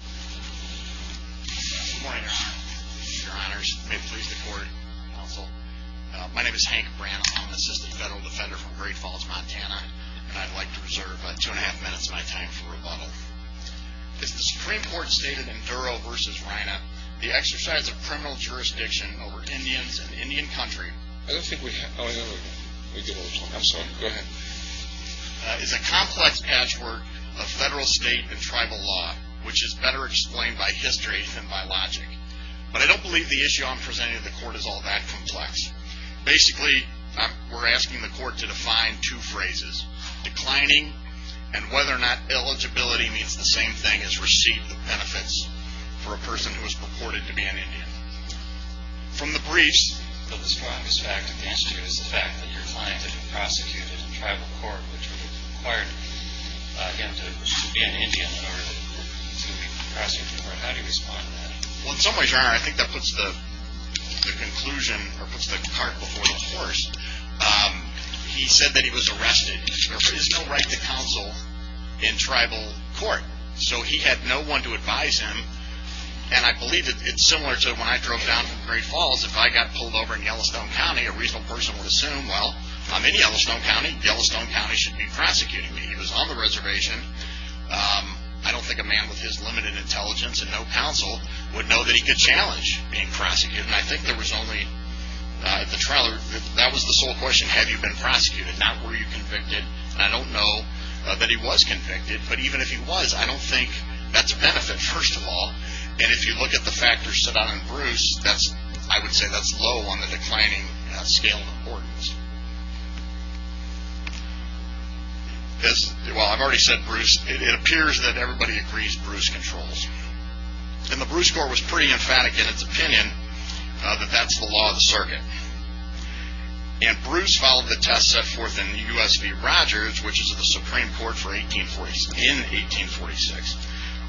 Good morning, your honors. May it please the court, counsel. My name is Hank Branagh. I'm an assistant federal defender from Great Falls, Montana, and I'd like to reserve about two and a half minutes of my time for rebuttal. Is the Supreme Court's stated in Duro v. Reina, the exercise of criminal jurisdiction over Indians in Indian Country... I don't think we have... Oh, no, no, no. We do have one. I'm sorry. Go ahead. ...is a complex patchwork of federal, state, and tribal law, which is better explained by history than by logic. But I don't believe the issue I'm presenting to the court is all that complex. Basically, we're asking the court to define two phrases, declining and whether or not eligibility means the same thing as receipt of benefits for a person who is purported to be an Indian. From the briefs... The strongest fact of the answer to this is the fact that your client had been prosecuted in tribal court, which would have required him to be an Indian in order to be prosecuted. How do you respond to that? Well, in some ways, your honor, I think that puts the conclusion, or puts the cart before the horse. He said that he was arrested. There is no right to counsel in tribal court. So he had no one to advise him. And I believe that it's similar to when I drove down from Great Falls. If I got pulled over in Yellowstone County, a reasonable person would assume, well, I'm in Yellowstone County. Yellowstone County should be prosecuting me. He was on the reservation. I don't think a man with his limited intelligence and no counsel would know that he could challenge being prosecuted. And I think there was only... The trial... That was the sole question. Have you been prosecuted? Not were you convicted? I don't know that he was convicted. But even if he was, I don't think that's a benefit, first of all. And if you look at the factors set out in Bruce, I would say that's low on the declining scale of importance. Well, I've already said Bruce. It appears that everybody agrees Bruce controls. And the Bruce Court was pretty emphatic in its opinion that that's the law of the circuit. And Bruce followed the test set forth in the U.S. v. Rogers, which is of the Supreme Court in 1846,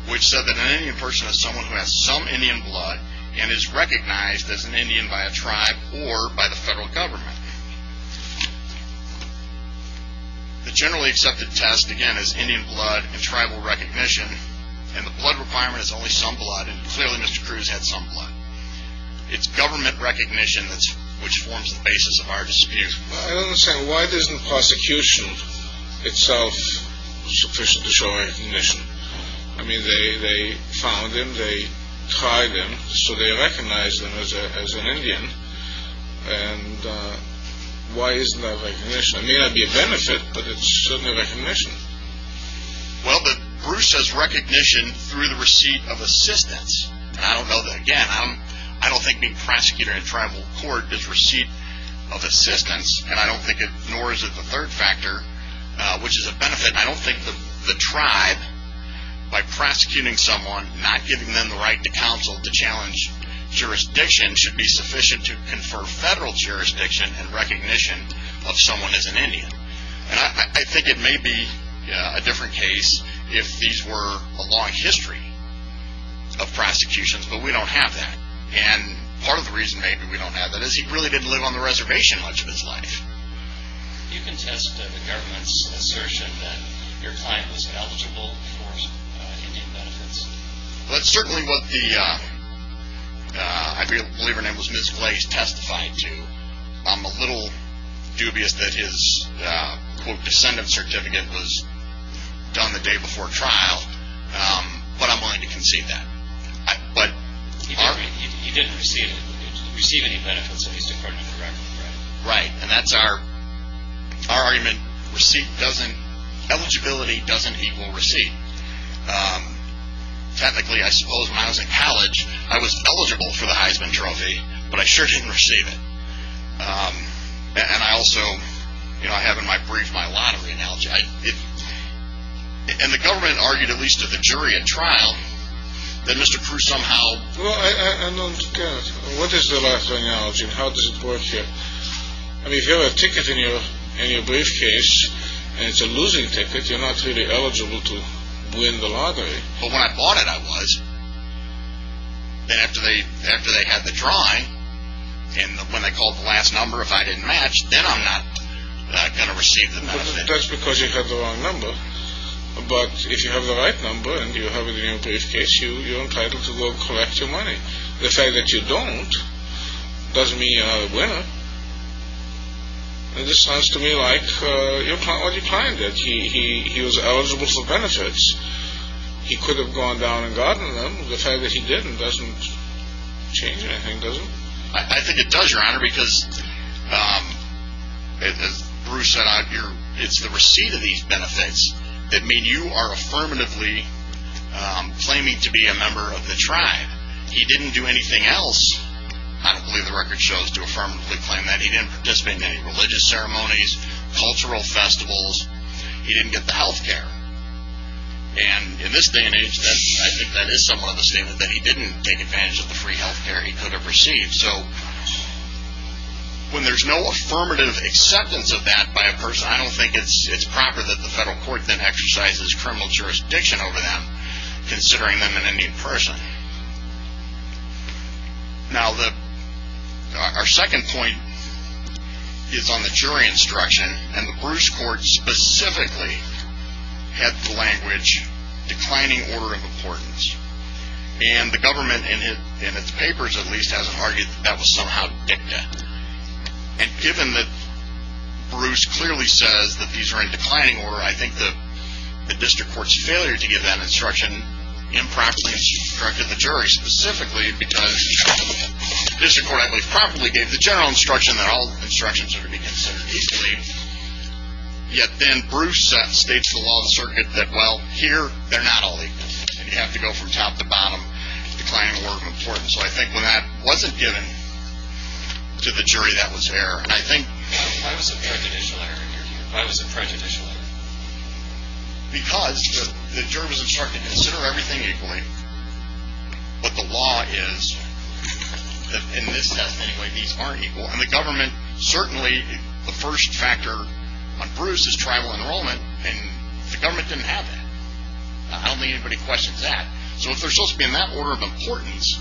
which said that an Indian person has someone who has some Indian blood and is recognized as an Indian by a tribe or by the federal government. The generally accepted test, again, is Indian blood and tribal recognition. And the blood requirement is only some blood, and clearly Mr. Cruz had some blood. It's government recognition which forms the basis of our dispute. I don't understand. Why isn't prosecution itself sufficient to show recognition? I mean, they found him, they tried him, so they recognized him as an Indian. And why isn't that recognition? I mean, that'd be a benefit, but it's certainly recognition. Well, but Bruce has recognition through the receipt of assistance. And I don't know that, again, I don't think being prosecuted in tribal court is receipt of assistance, and I don't think it nor is it the third factor, which is a benefit. And I don't think the tribe, by prosecuting someone, not giving them the right to counsel, to challenge jurisdiction, should be sufficient to confer federal jurisdiction and recognition of someone as an Indian. And I think it may be a different case if these were a long history of prosecutions, but we don't have that. And part of the reason maybe we don't have that is he really didn't live on the reservation much of his life. You can test the government's assertion that your client was eligible for Indian benefits. That's certainly what the, I believe her name was Ms. Glaze, testified to. I'm a little dubious that his, quote, descendant certificate was done the day before trial, but I'm willing to concede that. He didn't receive any benefits at least according to the record, right? Right, and that's our argument. Receipt doesn't, eligibility doesn't equal receipt. Technically, I suppose when I was in college, I was eligible for the Heisman Trophy, but I sure didn't receive it. And I also, you know, I have in my brief my lottery analogy. And the government argued, at least to the jury at trial, that Mr. Cruz somehow... Well, I don't get it. What is the lottery analogy and how does it work here? I mean, if you have a ticket in your briefcase and it's a losing ticket, you're not really eligible to win the lottery. But when I bought it, I was. Then after they had the drawing and when they called the last number, if I didn't match, then I'm not going to receive the benefit. That's because you have the wrong number. But if you have the right number and you have it in your briefcase, you're entitled to go collect your money. The fact that you don't doesn't mean you're not a winner. And this sounds to me like your client, what your client did, he was eligible for benefits. He could have gone down and gotten them. The fact that he didn't doesn't change anything, does it? I think it does, Your Honor, because as Bruce said, it's the receipt of these benefits that mean you are affirmatively claiming to be a member of the tribe. He didn't do anything else. I don't believe the record shows to affirmatively claim that. He didn't participate in any religious ceremonies, cultural festivals. He didn't get the health care. And in this day and age, I think that is somewhat of a statement that he didn't take advantage of the free health care he could have received. So when there's no affirmative acceptance of that by a person, I don't think it's proper that the federal court then exercises criminal jurisdiction over them, considering them an Indian person. Now, our second point is on the jury instruction. And the Bruce court specifically had the language, declining order of importance. And the government, in its papers at least, has argued that that was somehow dicta. And given that Bruce clearly says that these are in declining order, I think the district court's failure to give that instruction improperly has corrected the jury, specifically because the district court probably gave the general instruction that all instructions ought to be considered equally. Yet then Bruce states the law of the circuit that, well, here they're not all equal, and you have to go from top to bottom, declining order of importance. So I think when that wasn't given to the jury, that was error. And I think... Why was it prejudicial error here? Why was it prejudicial error? Because the jury was instructed, consider everything equally. But the law is, in this test anyway, these aren't equal. And the government certainly, the first factor on Bruce is tribal enrollment, and the government didn't have that. I don't think anybody questions that. So if they're supposed to be in that order of importance,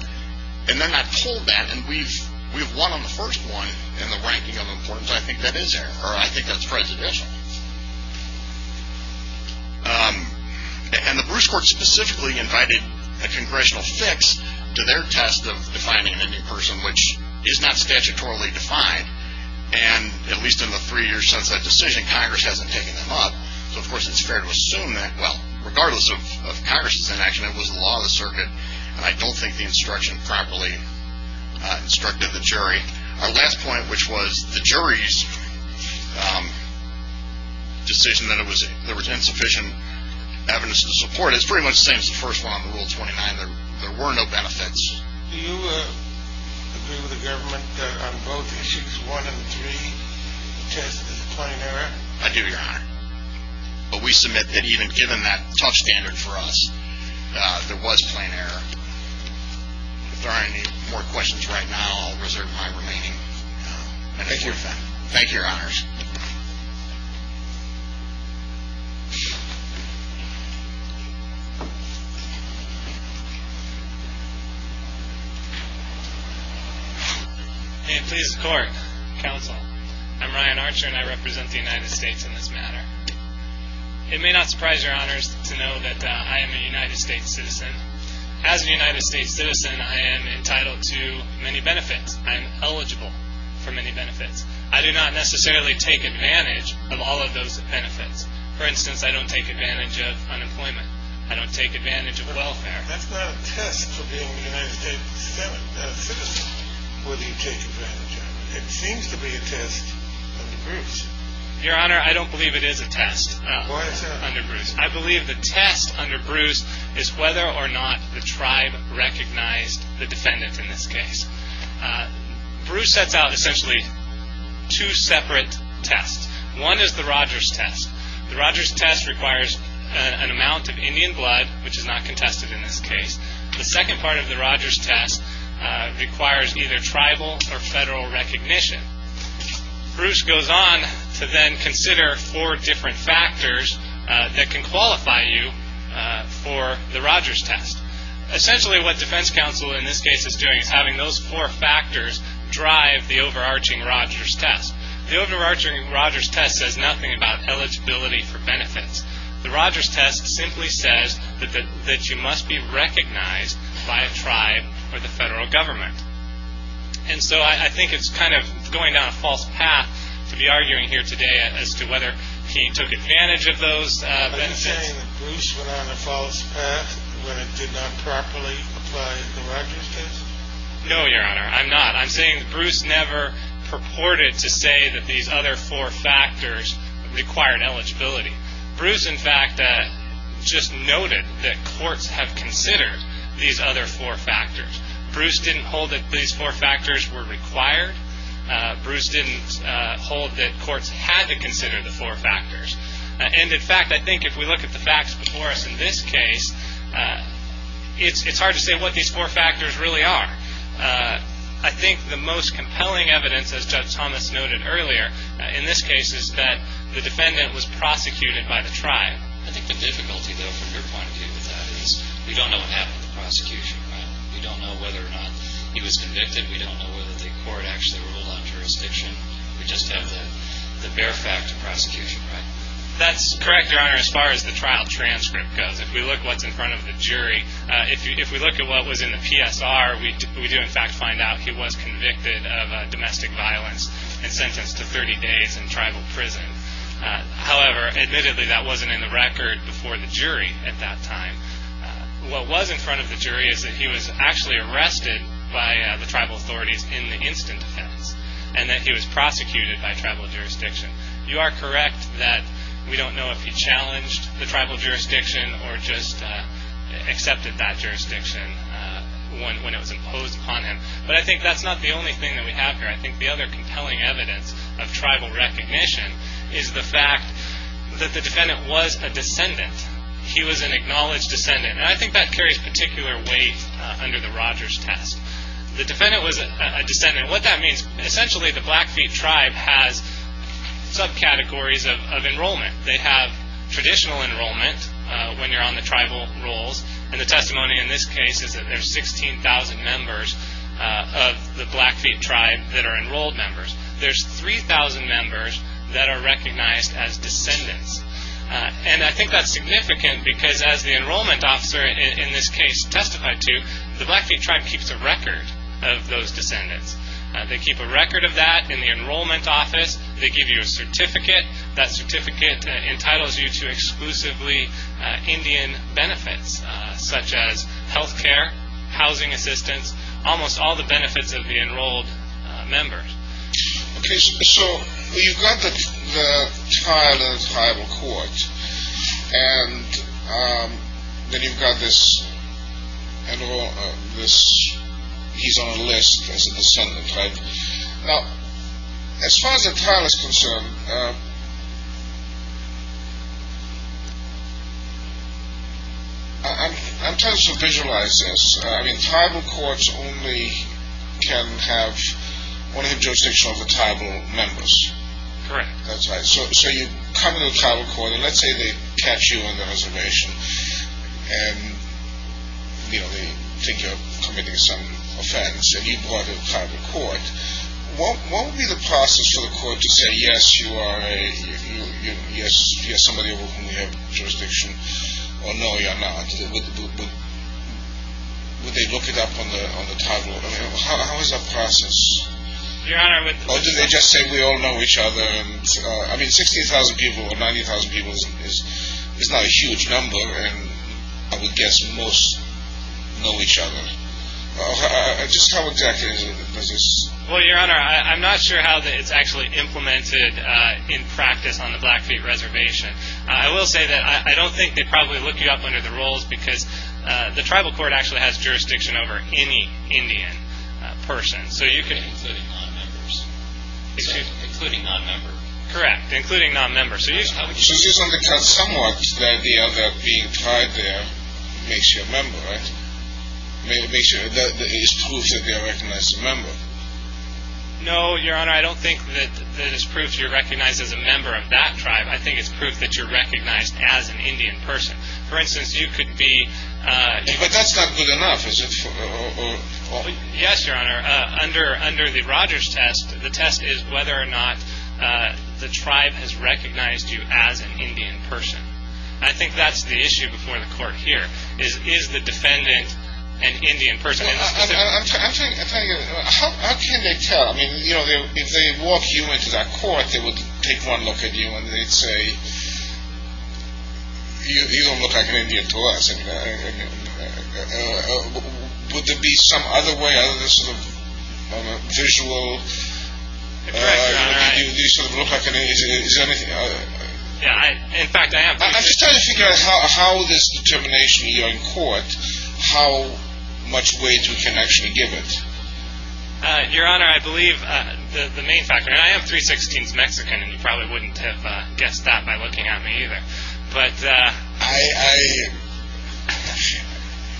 and they're not told that, and we've won on the first one in the ranking of importance, I think that is error, or I think that's prejudicial. And the Bruce court specifically invited a congressional fix to their test of defining an Indian person, which is not statutorily defined, and at least in the three years since that decision, Congress hasn't taken them up. So of course it's fair to assume that, well, regardless of Congress's inaction, it was the law of the circuit, and I don't think the instruction properly instructed the jury. Our last point, which was the jury's decision that there was insufficient evidence to support it, is pretty much the same as the first one on Rule 29. There were no benefits. Do you agree with the government that on both issues, one and three, the test is a plain error? I do, Your Honor. But we submit that even given that tough standard for us, there was plain error. If there are any more questions right now, I'll reserve my remaining time. Thank you, Your Honor. Thank you, Your Honors. May it please the Court, Counsel, I'm Ryan Archer, and I represent the United States in this matter. It may not surprise Your Honors to know that I am a United States citizen. As a United States citizen, I am entitled to many benefits. I am eligible for many benefits. I do not necessarily take advantage of all of those benefits. For instance, I don't take advantage of unemployment. I don't take advantage of welfare. That's not a test for being a United States citizen, whether you take advantage of it. It seems to be a test under Bruce. Your Honor, I don't believe it is a test under Bruce. Why is that? I believe the test under Bruce is whether or not the tribe recognized the defendant in this case. Bruce sets out essentially two separate tests. One is the Rogers test. The Rogers test requires an amount of Indian blood, which is not contested in this case. The second part of the Rogers test requires either tribal or federal recognition. Bruce goes on to then consider four different factors that can qualify you for the Rogers test. Essentially what defense counsel in this case is doing is having those four factors drive the overarching Rogers test. The overarching Rogers test says nothing about eligibility for benefits. The Rogers test simply says that you must be recognized by a tribe or the federal government. And so I think it's kind of going down a false path to be arguing here today as to whether he took advantage of those benefits. Are you saying that Bruce went down a false path when it did not properly apply the Rogers test? No, Your Honor, I'm not. I'm saying that Bruce never purported to say that these other four factors required eligibility. Bruce, in fact, just noted that courts have considered these other four factors. Bruce didn't hold that these four factors were required. Bruce didn't hold that courts had to consider the four factors. And, in fact, I think if we look at the facts before us in this case, it's hard to say what these four factors really are. I think the most compelling evidence, as Judge Thomas noted earlier in this case, is that the defendant was prosecuted by the tribe. I think the difficulty, though, from your point of view with that is we don't know what happened with the prosecution, right? We don't know whether or not he was convicted. We don't know whether the court actually ruled on jurisdiction. We just have the bare fact of prosecution, right? That's correct, Your Honor, as far as the trial transcript goes. If we look what's in front of the jury, if we look at what was in the PSR, we do, in fact, find out he was convicted of domestic violence and sentenced to 30 days in tribal prison. However, admittedly, that wasn't in the record before the jury at that time. What was in front of the jury is that he was actually arrested by the tribal authorities in the instant defense and that he was prosecuted by tribal jurisdiction. You are correct that we don't know if he challenged the tribal jurisdiction or just accepted that jurisdiction when it was imposed upon him. But I think that's not the only thing that we have here. I think the other compelling evidence of tribal recognition is the fact that the defendant was a descendant. He was an acknowledged descendant, and I think that carries particular weight under the Rogers test. The defendant was a descendant. What that means, essentially, the Blackfeet tribe has subcategories of enrollment. They have traditional enrollment when you're on the tribal rolls, and the testimony in this case is that there's 16,000 members of the Blackfeet tribe that are enrolled members. There's 3,000 members that are recognized as descendants. And I think that's significant because as the enrollment officer in this case testified to, the Blackfeet tribe keeps a record of those descendants. They keep a record of that in the enrollment office. They give you a certificate. That certificate entitles you to exclusively Indian benefits such as health care, housing assistance, almost all the benefits of the enrolled members. Okay, so you've got the trial in the tribal court, and then you've got this, he's on a list as a descendant, right? Now, as far as the trial is concerned, I'm tempted to visualize this. I mean, tribal courts only can have one of the jurisdictions with tribal members. Correct. That's right. So you come to the tribal court, and let's say they catch you on the reservation, and they think you're committing some offense, and you go out to the tribal court. What would be the process for the court to say, yes, you are a, yes, you're somebody who has jurisdiction, or no, you're not? Would they look it up on the tribal? I mean, how is that process? Or do they just say we all know each other? I mean, 60,000 people or 90,000 people is not a huge number, and I would guess most know each other. Just how exactly does this? Well, Your Honor, I'm not sure how it's actually implemented in practice on the Blackfeet Reservation. I will say that I don't think they probably look you up under the rules, because the tribal court actually has jurisdiction over any Indian person. Including non-members? Excuse me? Including non-members. Correct. Including non-members. So this undercuts somewhat the idea that being tied there makes you a member, right? It is proof that you are recognized a member. No, Your Honor, I don't think that it's proof you're recognized as a member of that tribe. I think it's proof that you're recognized as an Indian person. For instance, you could be... But that's not good enough, is it? Yes, Your Honor. Under the Rogers test, the test is whether or not the tribe has recognized you as an Indian person. I think that's the issue before the court here. Is the defendant an Indian person? I'm telling you... How can they tell? I mean, you know, if they walk you into that court, they would take one look at you and they'd say, You don't look like an Indian to us. Would there be some other way, other than sort of visual... Your Honor, I... Do you sort of look like an Indian? Is there anything... In fact, I am... I'm just trying to figure out how this determination here in court, how much weight we can actually give it. Your Honor, I believe the main factor... I mean, I am 316th Mexican, and you probably wouldn't have guessed that by looking at me either. But... I...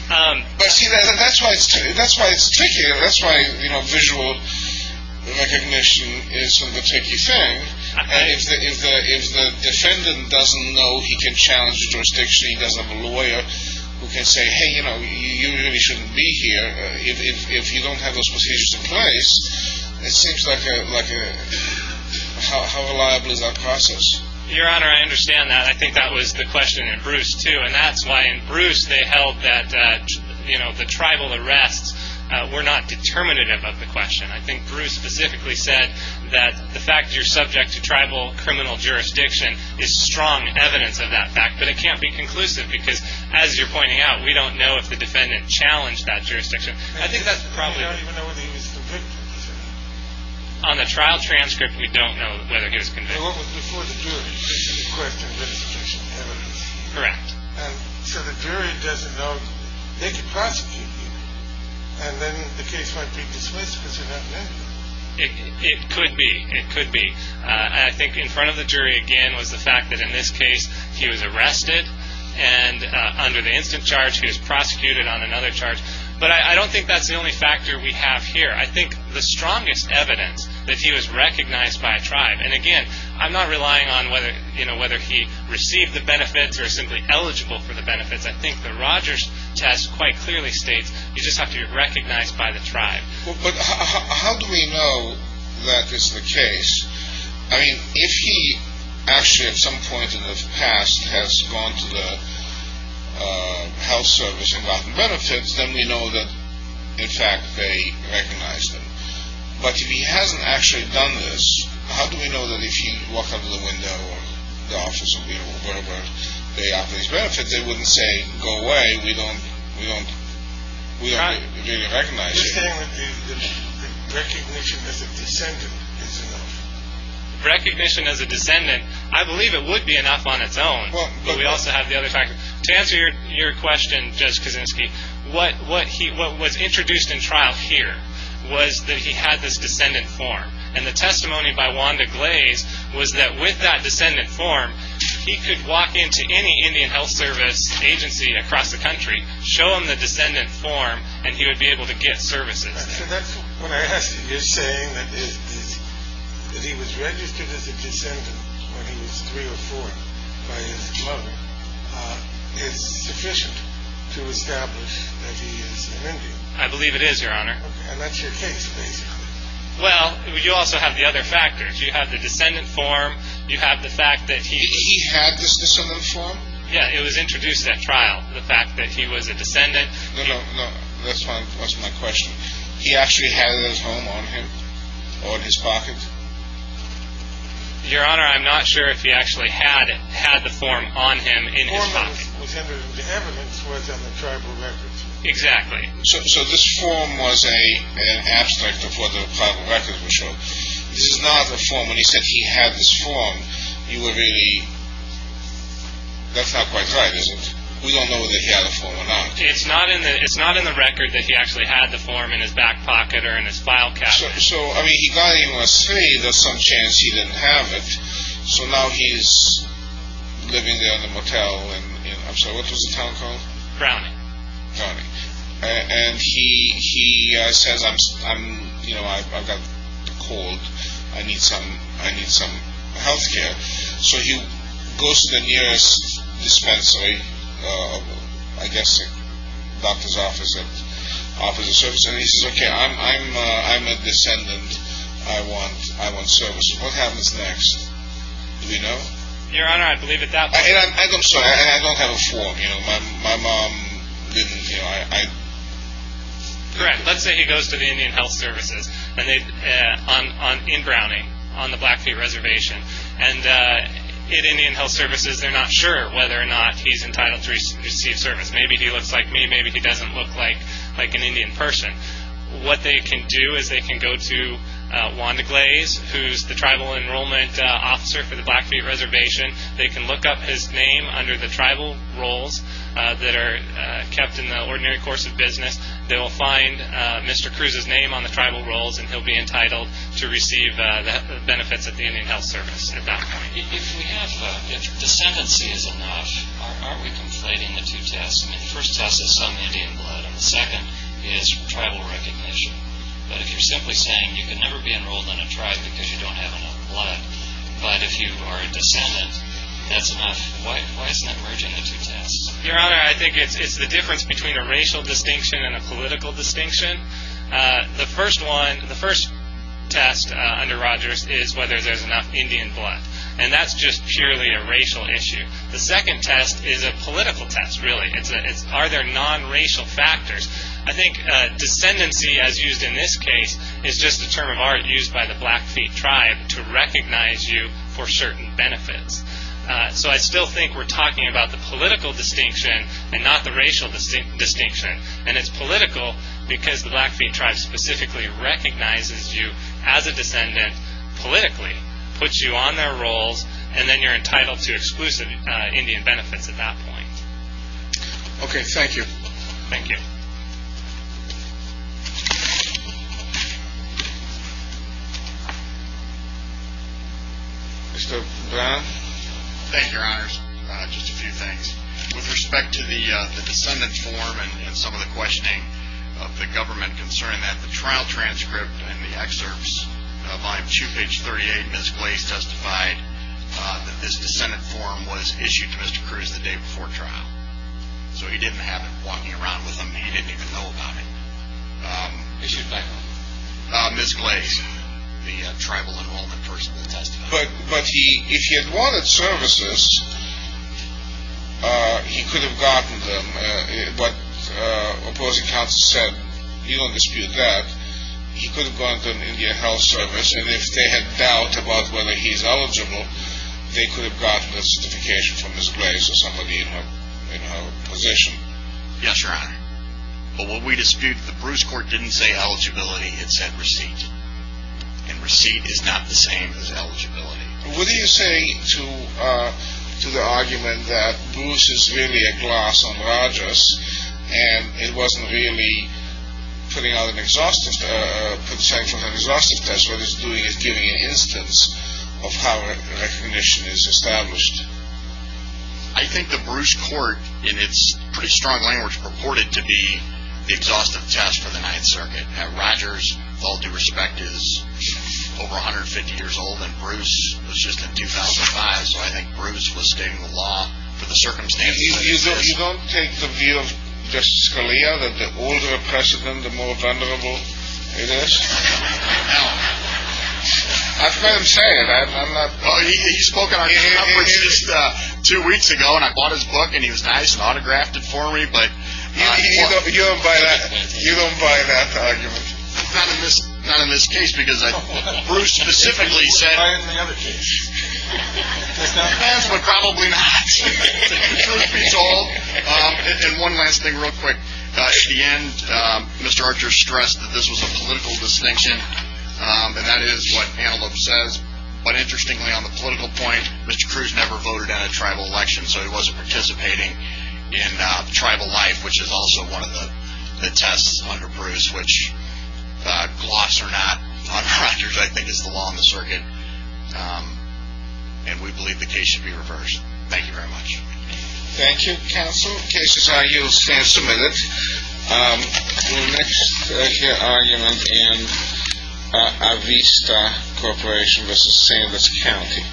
But see, that's why it's tricky. That's why visual recognition is sort of a tricky thing. If the defendant doesn't know, he can challenge the jurisdiction. He doesn't have a lawyer who can say, Hey, you know, you really shouldn't be here. If you don't have those procedures in place, it seems like a... How reliable is that process? Your Honor, I understand that. I think that was the question in Bruce, too. And that's why in Bruce, they held that the tribal arrests were not determinative of the question. I think Bruce specifically said that the fact you're subject to tribal criminal jurisdiction is strong evidence of that fact. But it can't be conclusive, because as you're pointing out, we don't know if the defendant challenged that jurisdiction. I think that's probably... You don't even know whether he was convicted, is that right? On the trial transcript, we don't know whether he was convicted. So it was before the jury requested that it's official evidence. Correct. And so the jury doesn't know... They could prosecute you, and then the case might be dismissed because you're not married. It could be. It could be. And I think in front of the jury, again, was the fact that in this case, he was arrested. And under the instant charge, he was prosecuted on another charge. But I don't think that's the only factor we have here. I think the strongest evidence that he was recognized by a tribe... And again, I'm not relying on whether he received the benefits or is simply eligible for the benefits. I think the Rogers test quite clearly states you just have to be recognized by the tribe. But how do we know that is the case? I mean, if he actually at some point in his past has gone to the health service and gotten benefits, then we know that, in fact, they recognized him. But if he hasn't actually done this, how do we know that if he walked out of the window or the office or whatever, they got these benefits, they wouldn't say, go away, we don't really recognize you. I'm just saying that the recognition as a descendant is enough. Recognition as a descendant, I believe it would be enough on its own. But we also have the other factor. To answer your question, Judge Kaczynski, what was introduced in trial here was that he had this descendant form. And the testimony by Wanda Glaze was that with that descendant form, he could walk into any Indian health service agency across the country, show them the descendant form, and he would be able to get services there. So that's what I asked you. You're saying that he was registered as a descendant when he was three or four by his mother is sufficient to establish that he is an Indian. I believe it is, Your Honor. And that's your case, basically. Well, you also have the other factors. You have the descendant form. You have the fact that he… He had this descendant form? Yeah, it was introduced at trial, the fact that he was a descendant. No, no, no, that's my question. He actually had that form on him or in his pocket? Your Honor, I'm not sure if he actually had the form on him in his pocket. The form that was entered into evidence was on the tribal records. Exactly. So this form was an abstract of what the tribal records were showing. This is not the form. When he said he had this form, you were really… That's not quite right, is it? We don't know that he had a form or not. It's not in the record that he actually had the form in his back pocket or in his file cabinet. So, I mean, he got it when he was three. There's some chance he didn't have it. So now he's living there in a motel in… I'm sorry, what was the town called? Browning. Browning. And he says, you know, I've got a cold. I need some health care. So he goes to the nearest dispensary, I guess a doctor's office, and he says, okay, I'm a descendant. I want service. What happens next? Do we know? Your Honor, I believe at that point… I'm sorry, I don't have a form. You know, my mom didn't, you know, I… Correct. Let's say he goes to the Indian Health Services in Browning, on the Blackfeet Reservation, and Indian Health Services, they're not sure whether or not he's entitled to receive service. Maybe he looks like me. Maybe he doesn't look like an Indian person. What they can do is they can go to Wanda Glaze, who's the tribal enrollment officer for the Blackfeet Reservation. They can look up his name under the tribal roles that are kept in the ordinary course of business. They will find Mr. Cruz's name on the tribal roles, and he'll be entitled to receive the benefits of the Indian Health Service at that point. If we have, if descendancy is enough, are we completing the two tests? I mean, the first test is some Indian blood, and the second is tribal recognition. But if you're simply saying you can never be enrolled in a tribe because you don't have enough blood, but if you are a descendant, that's enough. Why isn't that merging the two tests? Your Honor, I think it's the difference between a racial distinction and a political distinction. The first one, the first test under Rogers is whether there's enough Indian blood, and that's just purely a racial issue. The second test is a political test, really. Are there nonracial factors? I think descendancy, as used in this case, is just a term of art used by the Blackfeet tribe to recognize you for certain benefits. So I still think we're talking about the political distinction and not the racial distinction, and it's political because the Blackfeet tribe specifically recognizes you as a descendant politically, puts you on their roles, and then you're entitled to exclusive Indian benefits at that point. Okay, thank you. Thank you. Mr. Brown? Thank you, Your Honors. Just a few things. With respect to the descendant form and some of the questioning of the government concerning that, the trial transcript and the excerpts, volume 2, page 38, Ms. Glaze testified that this descendant form was issued to Mr. Cruz the day before trial. So he didn't have it walking around with him. He didn't even know about it. Excuse me? Ms. Glaze, the tribal involvement person that testified. But if he had wanted services, he could have gotten them. What opposing counsel said, you don't dispute that. He could have gotten them in the Indian Health Service, and if they had doubt about whether he's eligible, they could have gotten a certification from Ms. Glaze or somebody in her position. Yes, Your Honor. But what we dispute, the Bruce Court didn't say eligibility. It said receipt. And receipt is not the same as eligibility. What do you say to the argument that Bruce is really a gloss on Rogers and it wasn't really putting out an exhaustion test, but it's giving an instance of how recognition is established? I think the Bruce Court, in its pretty strong language, purported to be the exhaustive test for the Ninth Circuit. Now, Rogers, with all due respect, is over 150 years old, and Bruce was just in 2005, so I think Bruce was stating the law for the circumstances. You don't take the view of Justice Scalia that the older a precedent, the more vulnerable it is? No. That's what I'm saying. He spoke at our conference just two weeks ago, and I bought his book, and he was nice and autographed it for me. You don't buy that argument. Not in this case, because Bruce specifically said it. You buy it in the other case. He has, but probably not. The truth beats all. And one last thing real quick. At the end, Mr. Rogers stressed that this was a political distinction, and that is what panelist says. But interestingly, on the political point, Mr. Cruz never voted at a tribal election, so he wasn't participating in tribal life, which is also one of the tests under Bruce, which, gloss or not, under Rogers, I think, is the law in the circuit. And we believe the case should be reversed. Thank you very much. Thank you, counsel. The case is now submitted. We'll next hear argument in Avista Corporation v. Sandus County.